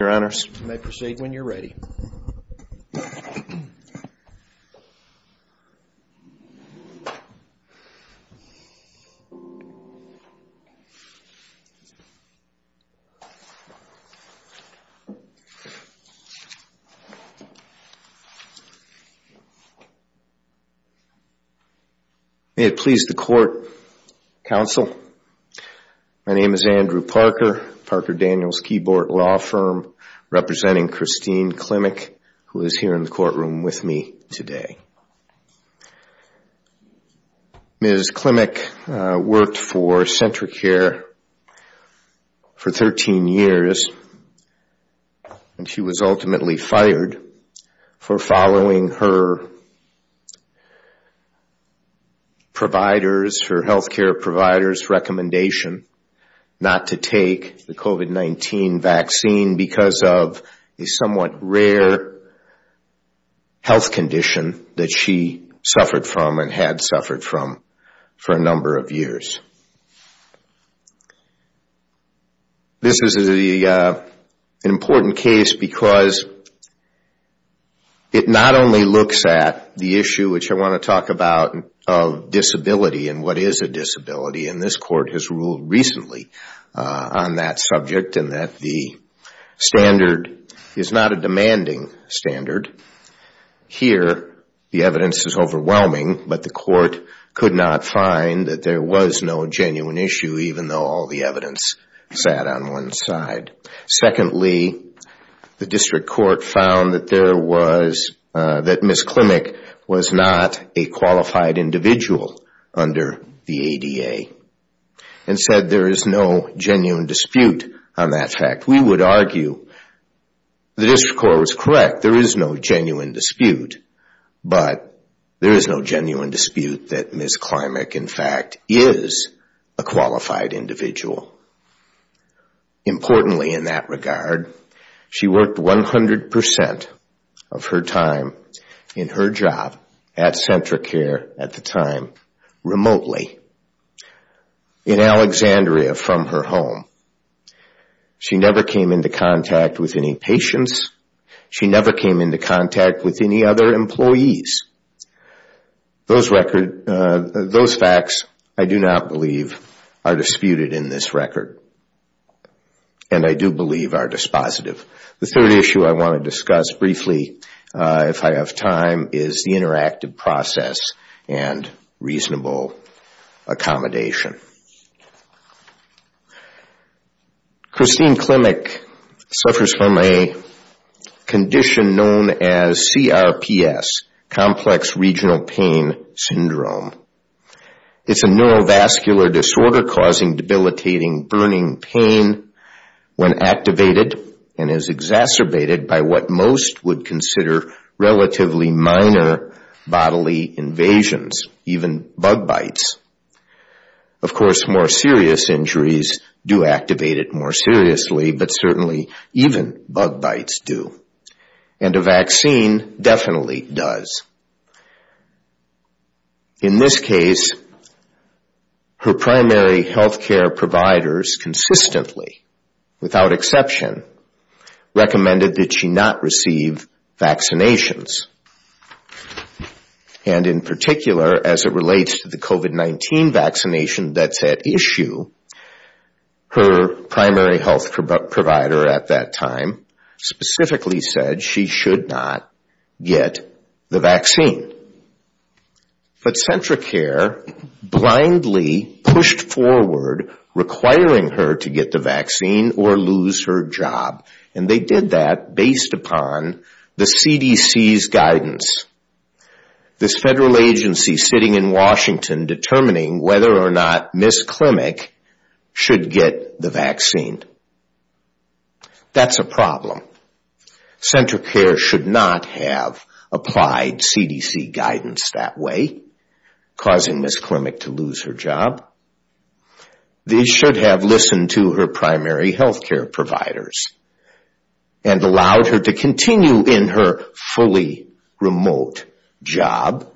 May it please the Court, Counsel, my name is Andrew Parker, Parker Daniels Keyboard Law Firm, representing Christine Klimek, who is here in the courtroom with me today. Ms. Klimek worked for CentraCare for 13 years and she was ultimately fired for following her health care provider's recommendation not to take the COVID-19 vaccine because of a somewhat rare health condition that she suffered from and had suffered from for a number of years. This is an important case because it not only looks at the issue which I want to talk about of disability and what is a disability, and this Court has ruled recently on that subject and that the standard is not a demanding standard. Here, the evidence is overwhelming, but the Court could find that there was no genuine issue even though all the evidence sat on one side. Secondly, the District Court found that Ms. Klimek was not a qualified individual under the ADA and said there is no genuine dispute on that fact. We would argue the District Court was correct, there is no genuine dispute, but there is no genuine dispute that Ms. Klimek, in fact, is a qualified individual. Importantly in that regard, she worked 100% of her time in her job at CentraCare at the time remotely in Alexandria from her home. She never came into contact with any patients. She never came into contact with any other employees. Those facts, I do not believe, are disputed in this record and I do believe are dispositive. The third issue I want to discuss briefly, if I have time, is the interactive process and reasonable accommodation. Christine Klimek suffers from a condition known as CRPS, complex regional pain syndrome. It is a neurovascular disorder causing debilitating burning pain when activated and is exacerbated by what most would consider relatively minor bodily invasions, even bug bites. Of course, more serious injuries do activate it more seriously, but certainly even bug bites do, and a vaccine definitely does. In this case, her primary health care providers consistently, without exception, recommended that she not receive vaccinations. And in particular, as it relates to the COVID-19 vaccination that's at issue, her primary health provider at that time specifically said she should not get the vaccination. But CentraCare blindly pushed forward requiring her to get the vaccine or lose her job, and they did that based upon the CDC's guidance. This federal agency sitting in Washington determining whether or not Ms. Klimek should get the vaccine. That's a problem. CentraCare should not have applied CDC guidance that way, causing Ms. Klimek to lose her job. They should have listened to her primary health care providers and allowed her to continue in her fully remote job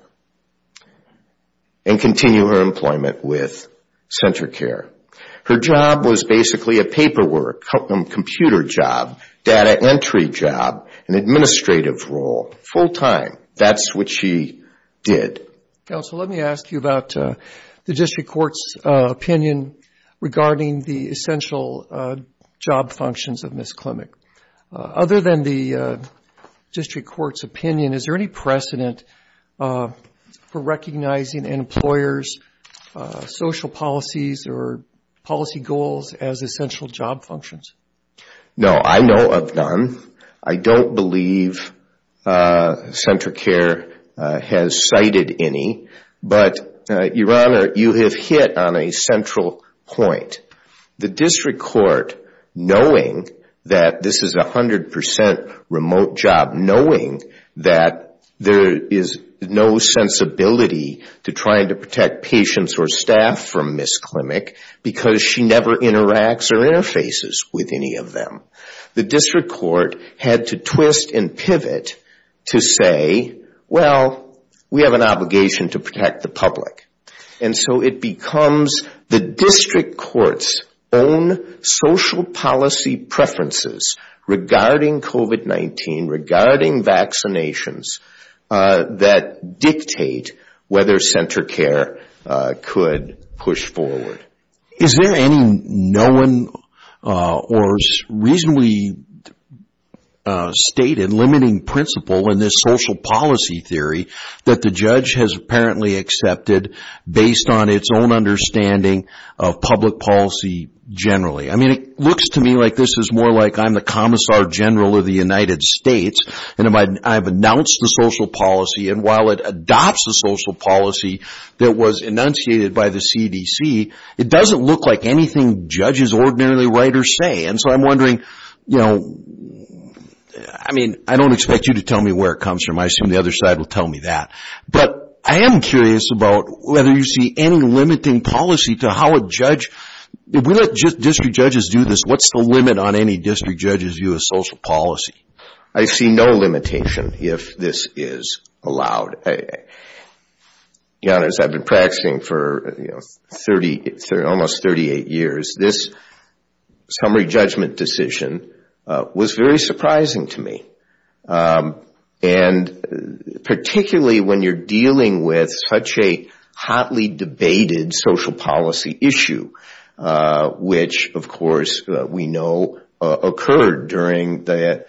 and continue her employment with CentraCare. Her job was basically a paperwork computer job, data entry job, an administrative role, full-time. That's what she did. Counsel, let me ask you about the district court's opinion regarding the essential job functions of Ms. Klimek. Other than the district court's opinion, is there any precedent for recognizing an employer's social policies or policy goals as essential job functions? No, I know of none. I don't believe CentraCare has cited any, but, Your Honor, you have hit on a central point. The district court, knowing that this is a 100% remote job, knowing that there is no sensibility to trying to protect patients or staff from Ms. Klimek because she never interacts or interfaces with any of them, the district court had to twist and pivot to say, well, we have an obligation to protect the public. It becomes the district court's own social policy preferences regarding COVID-19, regarding vaccinations that dictate whether CentraCare could push forward. Is there any known or reasonably stated limiting principle in this social policy theory that the judge has apparently accepted based on its own understanding of public policy generally? It looks to me like this is more like I'm the Commissar General of the United States, and I've announced the social policy, and while it adopts the social policy that was enunciated by the CDC, it doesn't look like anything judges ordinarily write or say. I don't expect you to tell me where it comes from. I assume the other side will tell me that. I am curious about whether you see any limiting policy to how a judge, if we let district judges do this, what's the limit on any district judge's view of social policy? I see no limitation if this is allowed. To be honest, I've been practicing for almost 38 years. This summary judgment decision was very surprising to me. Particularly when you're dealing with such a hotly debated social policy issue, which of course we know occurred during the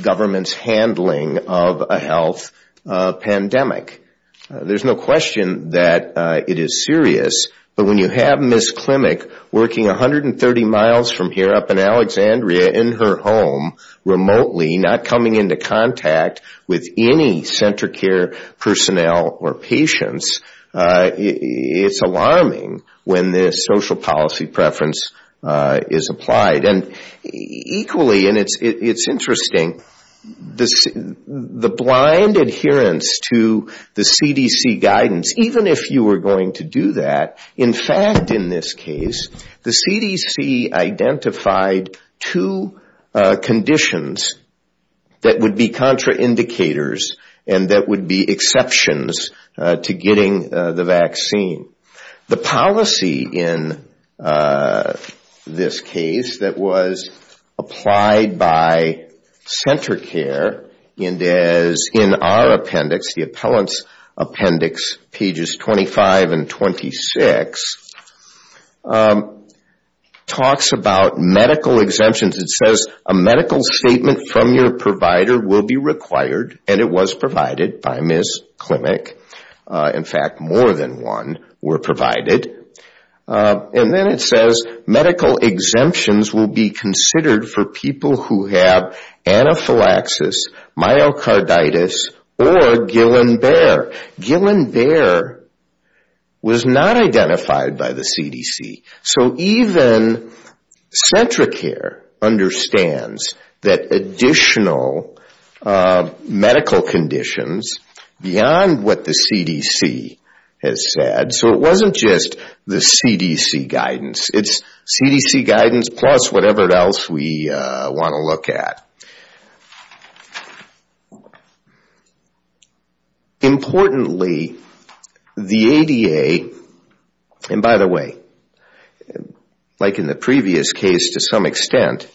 government's handling of a health pandemic. There's no question that it is serious, but when you have Ms. Klimek working 130 miles from here up in Alexandria in her home remotely, not coming into contact with any center care personnel or patients, it's alarming when this social policy preference is applied. Equally, and it's interesting, the blind adherence to the CDC guidance, even if you were going to do that, in fact in this case, the CDC identified two conditions that would be contraindicators and that would be exceptions to getting the vaccine. The policy in this case that was applied by center care and as in our appendix, the appellant's appendix, pages 25 and 26, talks about medical exemptions. It says a medical statement from your provider will be required, and it was provided by Ms. Klimek. In fact, more than one were provided. And then it says medical exemptions will be considered for people who have anaphylaxis, myocarditis, or Guillain-Barre. Guillain-Barre was not identified by the CDC. So even center care understands that additional medical conditions beyond what the CDC has said, so it wasn't just the CDC guidance. It's CDC guidance plus whatever else we want to look at. Importantly, the ADA, and by the way, like in the previous case to some extent,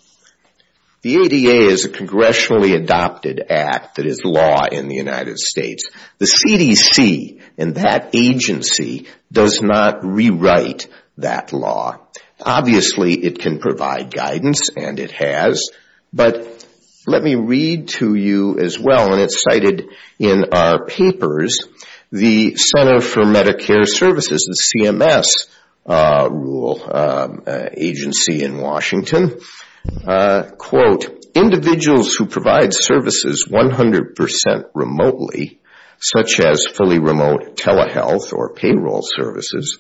the ADA is a congressionally adopted act that is law in the United States. The CDC and that agency does not rewrite that law. Obviously, it can provide guidance, and it has, but let me read to you as well, and it's cited in our papers, the Center for Medicare Services, the CMS agency in Washington, quote, individuals who provide services 100% remotely, such as fully remote telehealth or payroll services,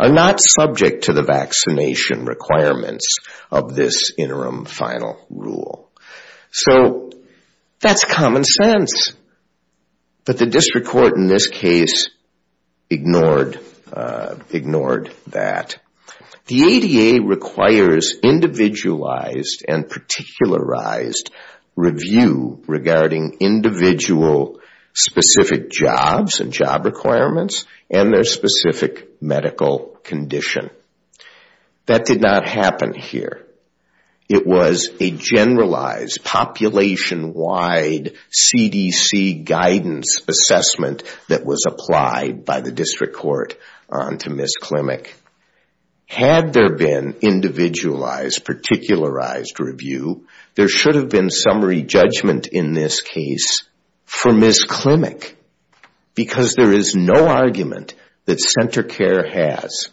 are not subject to the vaccination requirements of this interim final rule. So that's common sense, but the district court in this case ignored that. The ADA requires individualized and particularized review regarding individual specific jobs and job requirements and their specific medical condition. That did not happen here. It was a generalized population-wide CDC guidance assessment that was applied by the district court on to Ms. Klimek. Had there been individualized, particularized review, there should have been summary judgment in this case for Ms. Klimek, because there is no argument that center care has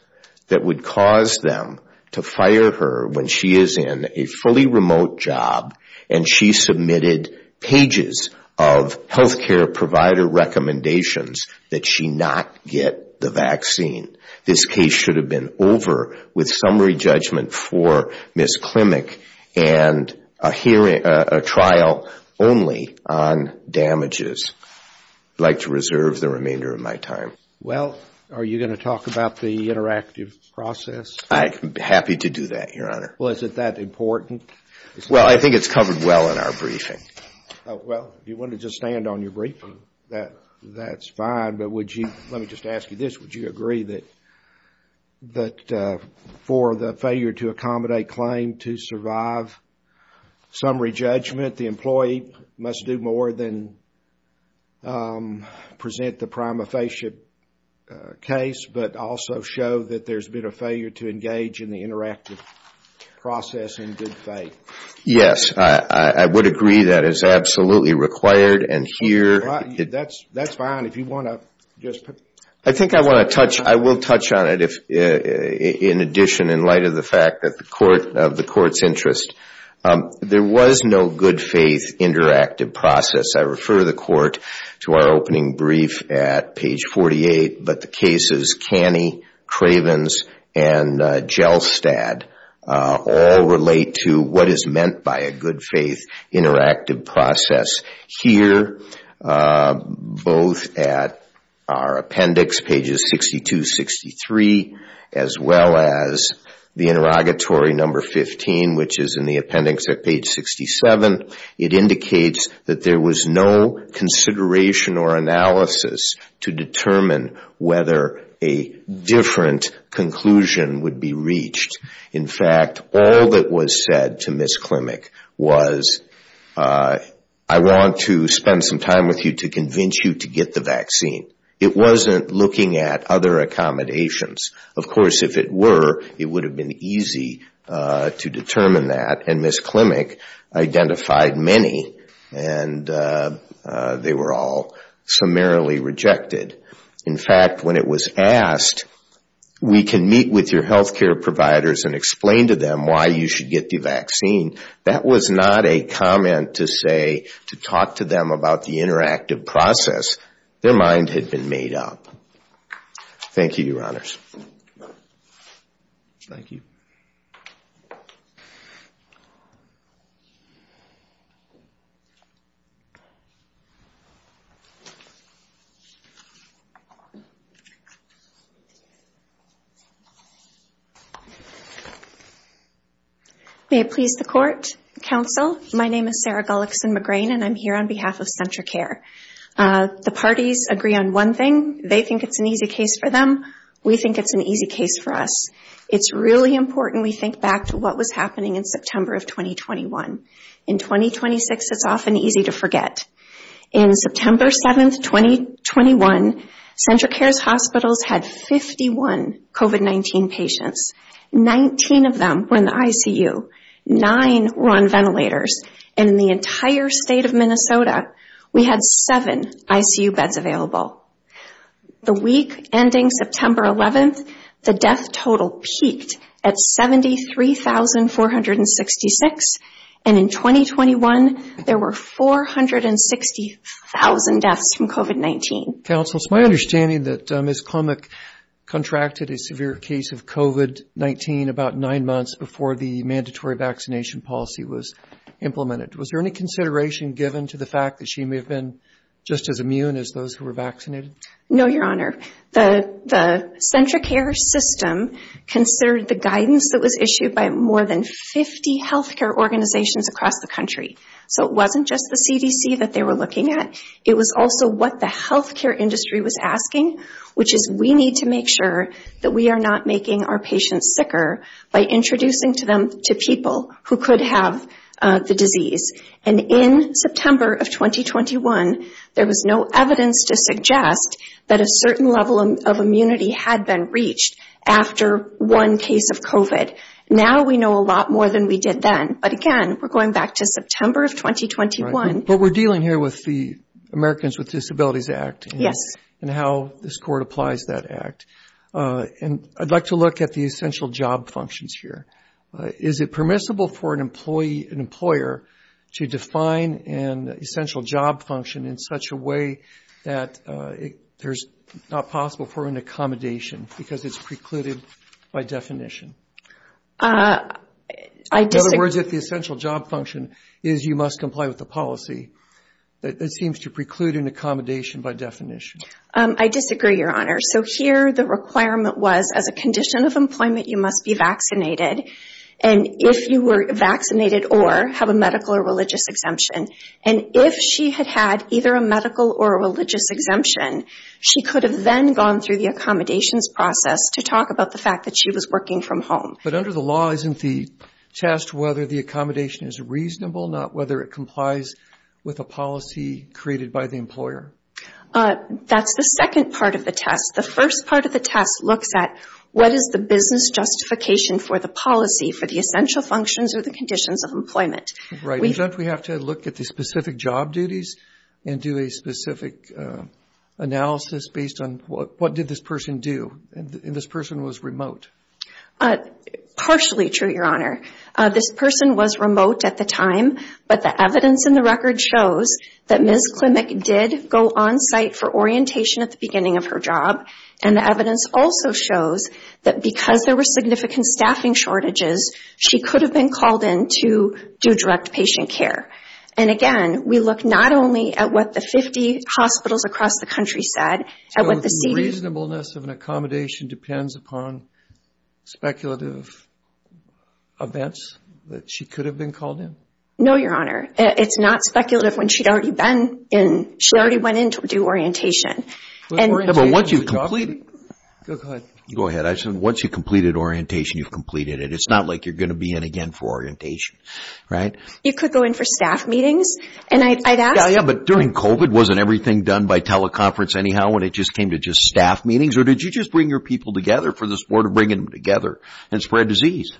that would cause them to fire her when she is in a fully remote job and she submitted pages of healthcare provider recommendations that she not get the vaccine. This case should have been over with summary judgment for Ms. Klimek and a trial only on damages. I'd like to reserve the remainder of my time. Well, are you going to talk about the interactive process? I'm happy to do that, Your Honor. Well, is it that important? Well, I think it's covered well in our briefing. Well, if you want to just stand on your briefing, that's fine, let me just ask you this. Would you agree that for the failure to accommodate claim to survive summary judgment, the employee must do more than present the prima facie case, but also show that there's been a failure to engage in the interactive process in good faith? Yes, I would agree that is absolutely required. Well, that's fine if you want to just put... I think I want to touch, I will touch on it in addition, in light of the fact of the court's interest. There was no good faith interactive process. I refer the court to our opening brief at page 48, but the cases Canny, Cravens, and Jelstad all relate to what is meant by a good faith interactive process. Here, both at our appendix, pages 62, 63, as well as the interrogatory number 15, which is in the appendix at page 67, it indicates that there was no consideration or analysis to determine whether a different conclusion would be reached. In fact, all that was said to Ms. Klimek was, I want to spend some time with you to convince you to get the vaccine. It wasn't looking at other accommodations. Of course, if it were, it would have been easy to determine that, and Ms. Klimek identified many, and they were all summarily rejected. In fact, when it was asked, we can meet with your healthcare providers and explain to them why you should get the vaccine, that was not a comment to say, to talk to them about the interactive process. Their mind had been made up. Thank you, your honors. Thank you. May it please the court, counsel, my name is Sarah Gullickson-McGrane, and I'm here on behalf of CentraCare. The parties agree on one thing, they think it's an easy case for them, we think it's an easy case for us. It's really important we think back to what was happening in September of 2021. In 2026, it's often easy to forget. In September 7th, 2021, CentraCare's hospitals had 51 COVID-19 patients, 19 of them were in the ICU, nine were on ventilators, and in the entire state of Minnesota, we had seven ICU beds available. The week ending September 11th, the death total peaked at 73,466, and in 2021, there were 460,000 deaths from COVID-19. Counsel, it's my understanding that Ms. Klemek contracted a severe case of COVID-19 about nine months before the mandatory vaccination policy was implemented. Was there any consideration given to the fact that she may have been just as immune as those who were vaccinated? No, Your Honor. The CentraCare system considered the guidance that was issued by more than 50 healthcare organizations across the country. So it wasn't just the CDC that they were looking at, it was also what the healthcare industry was asking, which is we need to make sure that we are not making our patients sicker by introducing to them, to people who could have the disease. And in September of 2021, there was no evidence to suggest that a certain level of immunity had been reached after one case of COVID. Now we know a lot more than we did then. But again, we're going back to September of 2021. But we're dealing here with the Americans with Disabilities Act. And how this court applies that act. And I'd like to look at the essential job functions here. Is it permissible for an employee, an employer, to define an essential job function in such a way that there's not possible for an accommodation because it's precluded by definition? I disagree. In other words, if the essential job function is you must comply with the policy, it seems to preclude an accommodation by definition. I disagree, Your Honor. So here the requirement was as a condition of employment, you must be vaccinated. And if you were vaccinated or have a medical or religious exemption. And if she had had either a medical or a religious exemption, she could have then gone through the accommodations process to talk about the fact that she was working from home. But under the law, isn't the test whether the accommodation is reasonable, not whether it complies with a policy created by the employer? That's the second part of the test. The first part of the test looks at what is the business justification for the policy, for the essential functions or the conditions of employment? Doesn't we have to look at the specific job duties and do a specific analysis based on what did this person do? And this person was remote. Partially true, Your Honor. This person was remote at the time, but the evidence in the record shows that Ms. Klimek did go on site for orientation at the beginning of her job. And the evidence also shows that because there were significant staffing shortages, she could have been called in to do direct patient care. And again, we look not only at what the 50 hospitals across the country said, at what the CDC... So the reasonableness of an accommodation depends upon speculative events that she could have been called in? No, Your Honor. It's not speculative when she'd already been in, she already went in to do orientation. But once you've completed... Go ahead. Once you've completed orientation, you've completed it. It's not like you're going to be in again for orientation, right? You could go in for staff meetings, and I'd ask... Yeah, but during COVID, wasn't everything done by teleconference anyhow when it just came to just staff meetings? Or did you just bring your people together for the sport of bringing them together and spread disease?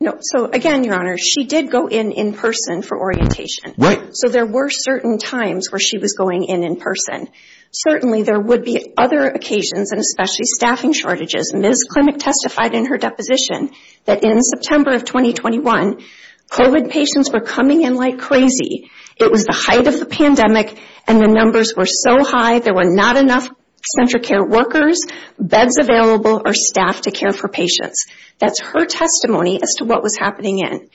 No. So again, Your Honor, she did go in in person for orientation. Right. So there were certain times where she was going in in person. Certainly, there would be other occasions and especially staffing shortages. Ms. Klimek testified in her deposition that in September of 2021, COVID patients were coming in like crazy. It was the height of the pandemic and the numbers were so high, there were not enough central care workers, beds available, or staff to care for patients. That's her testimony as to what was happening in.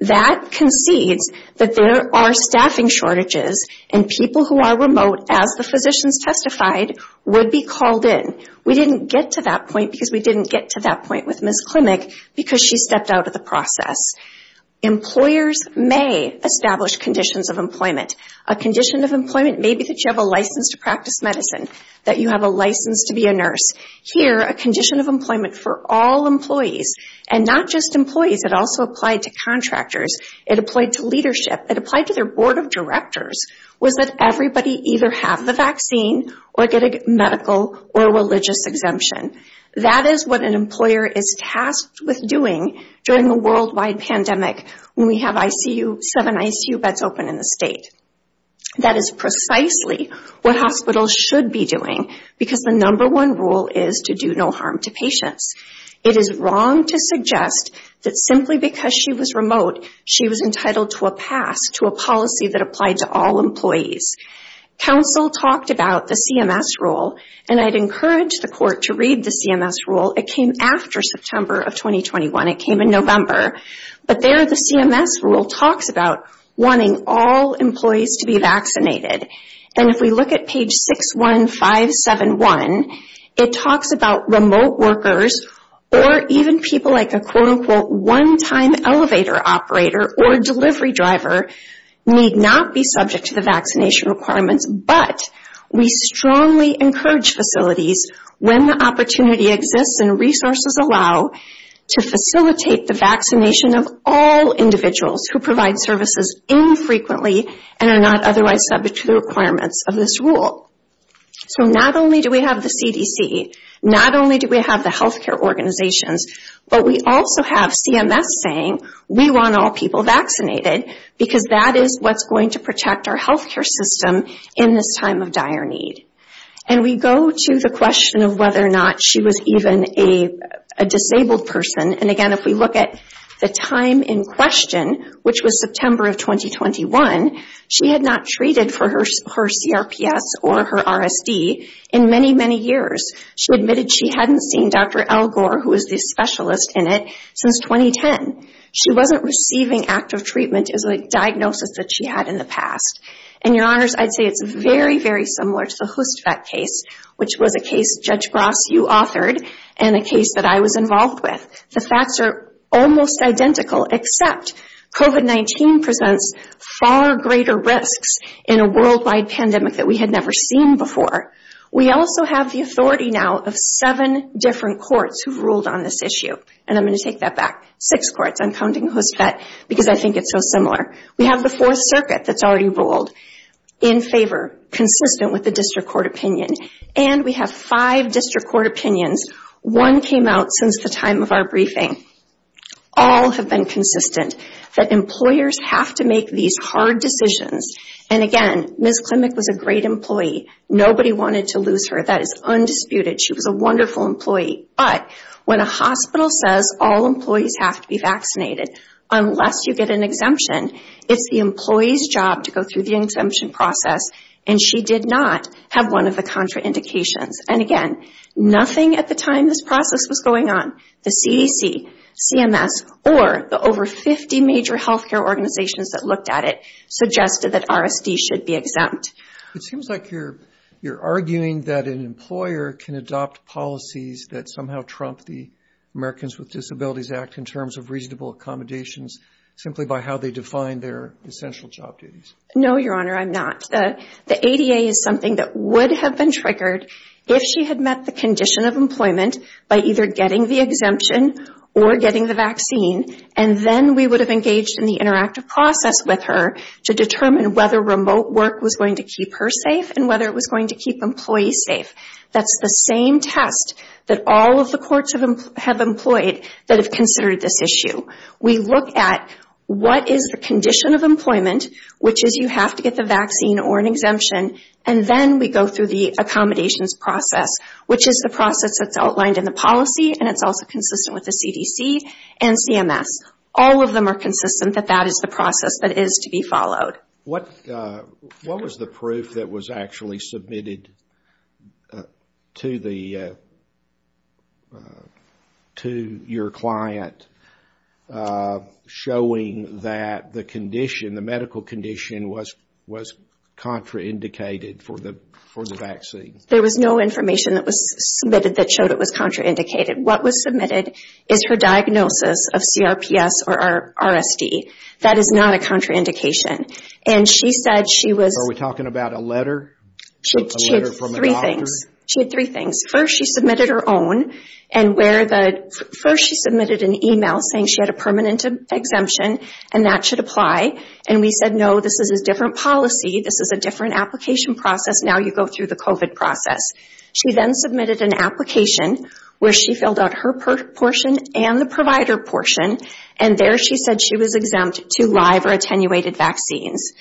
That concedes that there are staffing shortages and people who are remote, as the physicians testified, would be called in. We didn't get to that point because we didn't get to that point with Ms. Klimek because she stepped out of the process. Employers may establish conditions of employment. A condition of employment may be that you have a license to practice medicine, that you have a license to be a nurse. Here, a condition of employment for all employees and not just employees. It also applied to contractors. It applied to leadership. It applied to their board of directors, was that everybody either have the vaccine or get a medical or religious exemption. That is what an employer is tasked with doing during the worldwide pandemic when we have seven ICU beds open in the state. That is precisely what hospitals should be doing because the number one rule is to do no harm to patients. It is wrong to suggest that simply because she was remote, she was entitled to a pass to a policy that applied to all employees. Council talked about the CMS rule and I'd encourage the court to read the CMS rule. It came after September of 2021. It came in November. But there, the CMS rule talks about wanting all employees to be vaccinated. And if we look at page 61571, it talks about remote workers or even people like a quote-unquote one-time elevator operator or delivery driver need not be subject to the vaccination requirements. But we strongly encourage facilities when the opportunity exists and resources allow to facilitate the vaccination of all individuals who provide services infrequently and are not otherwise subject to the requirements of this rule. So not only do we have the CDC, not only do we have the healthcare organizations, but we also have CMS saying we want all people vaccinated because that is what's going to protect our healthcare system in this time of dire need. And we go to the question of whether or not she was even a disabled person. And again, if we look at the time in question, which was September of 2021, she had not treated for her CRPS or her RSD in many, many years. She admitted she hadn't seen Dr. Elgor, who is the specialist in it, since 2010. She wasn't receiving active treatment as a diagnosis that she had in the past. And your honors, I'd say it's very, very similar to the HoostVet case, which was a case, Judge Gross, you authored and a case that I was involved with. The facts are almost identical, except COVID-19 presents far greater risks in a worldwide pandemic that we had never seen before. We also have the authority now of seven different courts who've ruled on this issue. And I'm going to take that back, six courts. I'm counting HoostVet because I think it's so similar. We have the Fourth Circuit that's already ruled in favor, consistent with the district court opinion. And we have five district court opinions. One came out since the time of our briefing. All have been consistent that employers have to make these hard decisions. And again, Ms. Klimek was a great employee. Nobody wanted to lose her. That is undisputed. She was a wonderful employee. But when a hospital says all employees have to be vaccinated unless you get an exemption, it's the employee's job to go through the exemption process. And she did not have one of the contraindications. And again, nothing at the time this process was going on, the CDC, CMS, or the over 50 major healthcare organizations that looked at it, suggested that RSD should be exempt. It seems like you're arguing that an employer can adopt policies that somehow trump the Americans with Disabilities Act in terms of reasonable accommodations, simply by how they define their essential job duties. No, Your Honor, I'm not. The ADA is something that would have been triggered if she had met the condition of employment by either getting the exemption or getting the vaccine. And then we would have engaged in the interactive process with her to determine whether remote work was going to keep her safe, and whether it was going to keep employees safe. That's the same test that all of the courts have employed that have considered this issue. We look at what is the condition of employment, which is you have to get the vaccine or an exemption, and then we go through the accommodations process, which is the process that's outlined in the policy, and it's also consistent with the CDC and CMS. All of them are consistent that that is the process that is to be followed. What was the proof that was actually submitted to your client showing that the medical condition was contraindicated for the vaccine? There was no information that was submitted that showed it was contraindicated. What was submitted is her diagnosis of CRPS or RSD. That is not a contraindication. Are we talking about a letter from a doctor? She had three things. First, she submitted her own. First, she submitted an email saying she had a permanent exemption and that should apply. And we said, no, this is a different policy. This is a different application process. Now you go through the COVID process. She then submitted an application where she filled out her portion and the provider portion, and there she said she was exempt to live or attenuated vaccines.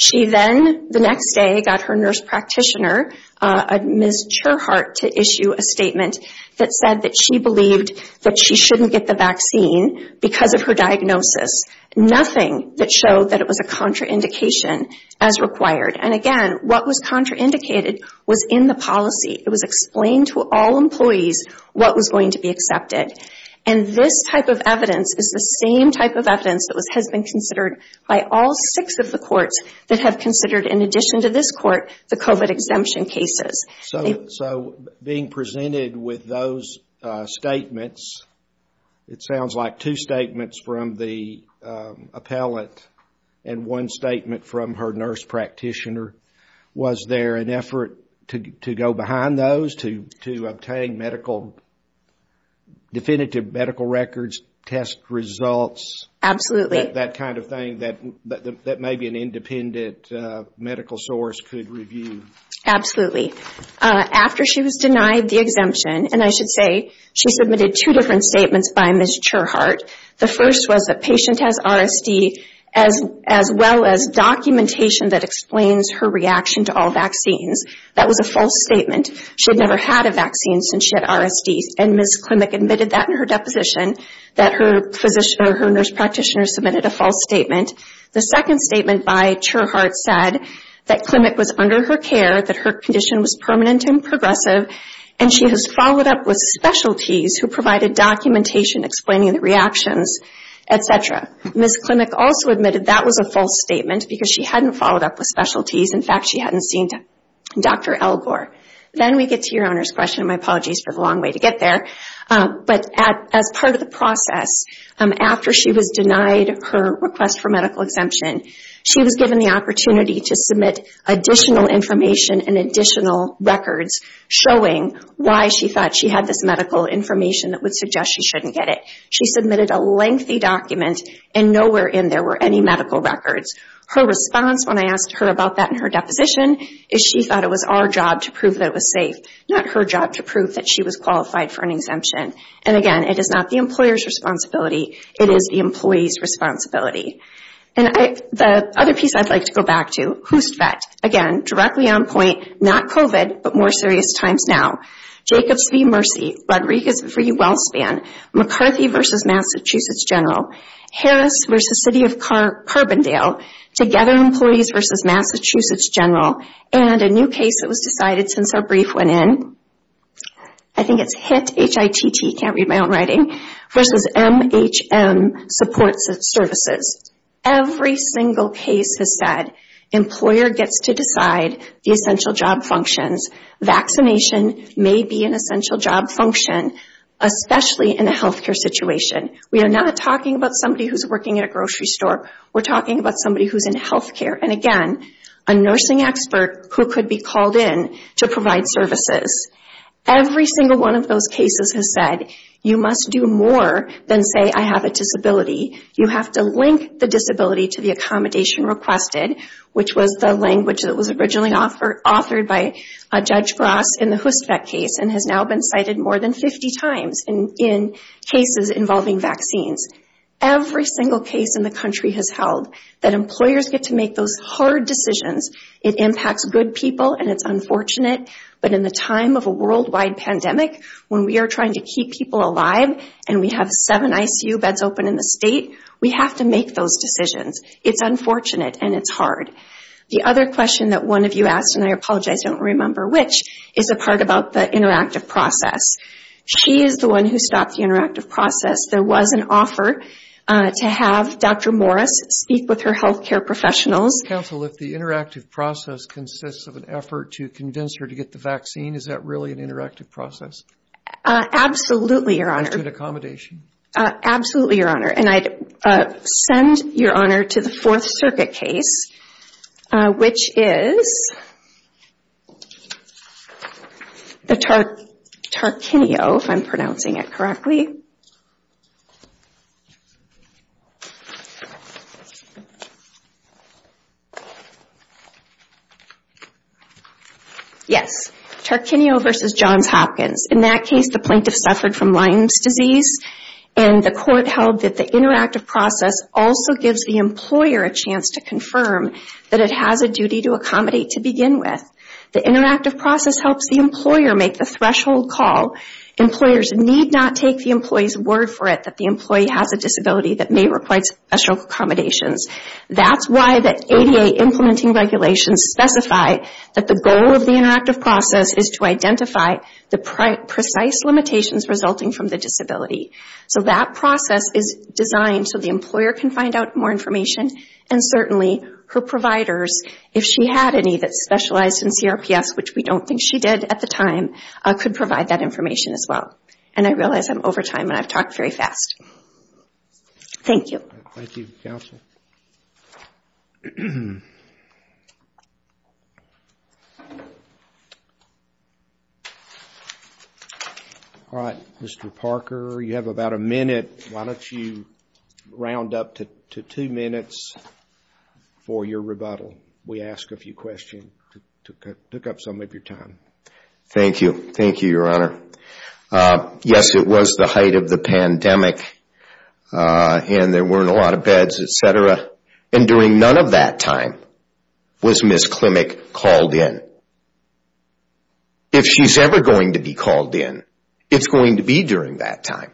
She then, the next day, got her nurse practitioner, Ms. Cherhart, to issue a statement that said that she believed that she shouldn't get the vaccine because of her diagnosis. Nothing that showed that it was a contraindication as required. And again, what was contraindicated was in the policy. It was explained to all employees what was going to be accepted. And this type of evidence is the same type of evidence that has been considered by all six of the courts that have considered, in addition to this court, the COVID exemption cases. So being presented with those statements, it sounds like two statements from the appellant and one statement from her nurse practitioner. Was there an effort to go behind those to obtain medical, definitive medical records, test results? Absolutely. That kind of thing that maybe an independent medical source could review. Absolutely. After she was denied the exemption, and I should say, she submitted two different statements by Ms. Cherhart. The first was that patient has RSD as well as documentation that explains her reaction to all vaccines. That was a false statement. She had never had a vaccine since she had RSD. And Ms. Klimek admitted that in her deposition, that her physician or her nurse practitioner submitted a false statement. The second statement by Cherhart said that Klimek was under her care, that her condition was permanent and progressive, and she has followed up with specialties who provided documentation explaining the reactions, Ms. Klimek also admitted that was a false statement because she hadn't followed up with specialties. In fact, she hadn't seen Dr. Elgort. Then we get to your owner's question. My apologies for the long way to get there. But as part of the process, after she was denied her request for medical exemption, she was given the opportunity to submit additional information and additional records showing why she thought she had this medical information that would suggest she shouldn't get it. She submitted a lengthy document and nowhere in there were any medical records. Her response when I asked her about that in her deposition, is she thought it was our job to prove that it was safe, not her job to prove that she was qualified for an exemption. And again, it is not the employer's responsibility. It is the employee's responsibility. And the other piece I'd like to go back to, who's that? Again, directly on point, not COVID, but more serious times now. Jacobs v. Mercy. Rodriguez v. WellSpan. McCarthy v. Massachusetts General. Harris v. City of Carbondale. Together Employees v. Massachusetts General. And a new case that was decided since our brief went in. I think it's HITT, H-I-T-T, can't read my own writing, versus M-H-M, Support Services. Every single case has said employer gets to decide the essential job functions. Vaccination may be an essential job function, especially in a healthcare situation. We are not talking about somebody who's working at a grocery store. We're talking about somebody who's in healthcare. And again, a nursing expert who could be called in to provide services. Every single one of those cases has said, you must do more than say, I have a disability. You have to link the disability to the accommodation requested, which was the language that was originally authored by Judge Gross in the HUSFEC case, and has now been cited more than 50 times in cases involving vaccines. Every single case in the country has held that employers get to make those hard decisions. It impacts good people, and it's unfortunate. But in the time of a worldwide pandemic, when we are trying to keep people alive, and we have seven ICU beds open in the state, we have to make those decisions. It's unfortunate, and it's hard. The other question that one of you asked, and I apologize, I don't remember which, is a part about the interactive process. She is the one who stopped the interactive process. There was an offer to have Dr. Morris speak with her healthcare professionals. Counsel, if the interactive process consists of an effort to convince her to get the vaccine, is that really an interactive process? Absolutely, Your Honor. And to an accommodation? Absolutely, Your Honor. And I'd send Your Honor to the Fourth Circuit case, which is the Tarquinio, if I'm pronouncing it correctly. Yes, Tarquinio v. Johns Hopkins. In that case, the plaintiff suffered from Lyme's disease, and the court held that the interactive process also gives the employer a chance to confirm that it has a duty to accommodate to begin with. The interactive process helps the employer make the threshold call. Employers need not take the employee's word for it that the employee has a disability that may require special accommodations. That's why the ADA implementing regulations specify that the goal of the interactive process is to identify the precise limitations resulting from the disability. So that process is designed so the employer can find out more information, and certainly her providers, if she had any that specialized in CRPS, which we don't think she did at the time, could provide that information as well. And I realize I'm over time, and I've talked very fast. Thank you. Thank you, counsel. All right, Mr. Parker, you have about a minute. Why don't you round up to two minutes for your rebuttal? We asked a few questions, took up some of your time. Thank you. Thank you, Your Honor. Yes, it was the height of the pandemic, and there weren't a lot of beds, etc. And during none of that time was Ms. Klimek called in. If she's ever going to be called in, it's going to be during that time.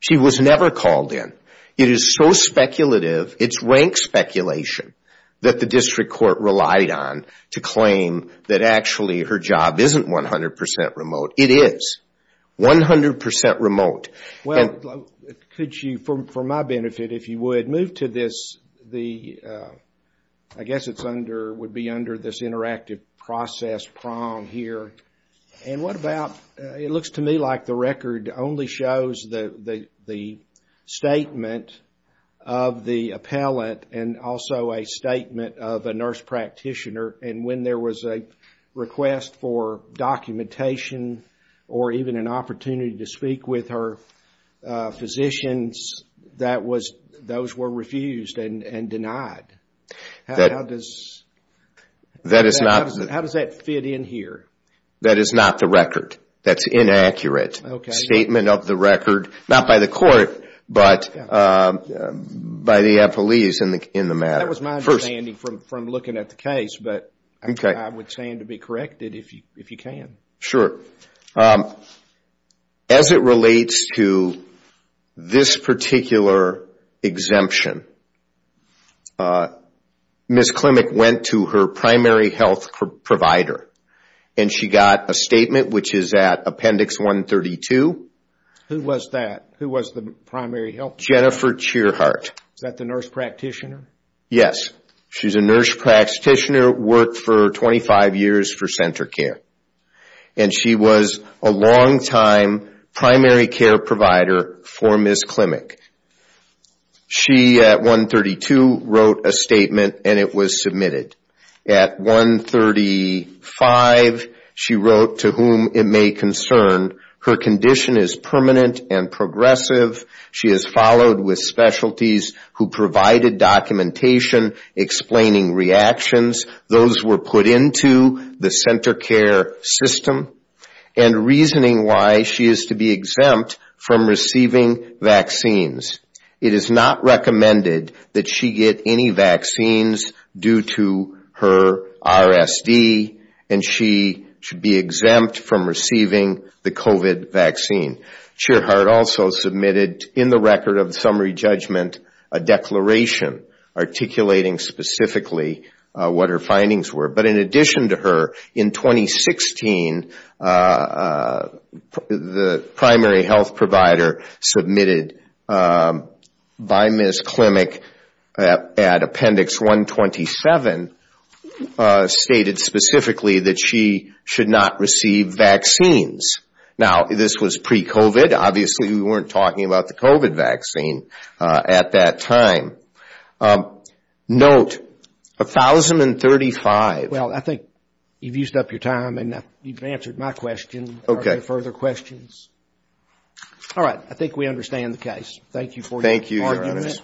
She was never called in. It is so speculative, it's rank speculation, that the district court relied on to claim that actually her job isn't 100% remote. It is 100% remote. Well, could you, for my benefit, if you would, move to this, the, I guess it's under, would be under this interactive process prong here. And what about, it looks to me like the record only shows the statement of the appellant, and also a statement of a nurse practitioner. And when there was a request for documentation, or even an opportunity to speak with her, physicians, that was, those were refused and denied. How does that fit in here? That is not the record. That's inaccurate. Okay. Statement of the record, not by the court, but by the appellees in the matter. That was my understanding from looking at the case, but I would stand to be corrected if you can. Sure. As it relates to this particular exemption, Ms. Klimek went to her primary health provider, and she got a statement which is at appendix 132. Who was that? Who was the primary health provider? Jennifer Cheerheart. Is that the nurse practitioner? Yes. She's a nurse practitioner, worked for 25 years for center care. And she was a longtime primary care provider for Ms. Klimek. She, at 132, wrote a statement, and it was submitted. At 135, she wrote, to whom it may concern, her condition is permanent and progressive. She is followed with specialties who provided documentation explaining reactions. Those were put into the center care system and reasoning why she is to be exempt from receiving vaccines. It is not recommended that she get any vaccines due to her RSD, and she should be exempt from receiving the COVID vaccine. Cheerheart also submitted, in the record of the summary judgment, a declaration articulating specifically what her findings were. But in addition to her, in 2016, the primary health provider submitted by Ms. Klimek at appendix 127 stated specifically that she should not receive vaccines. Now, this was pre-COVID. Obviously, we weren't talking about the COVID vaccine at that time. Note, 1035. Well, I think you've used up your time, and you've answered my question. Okay. Further questions? All right. I think we understand the case. Thank you for your argument.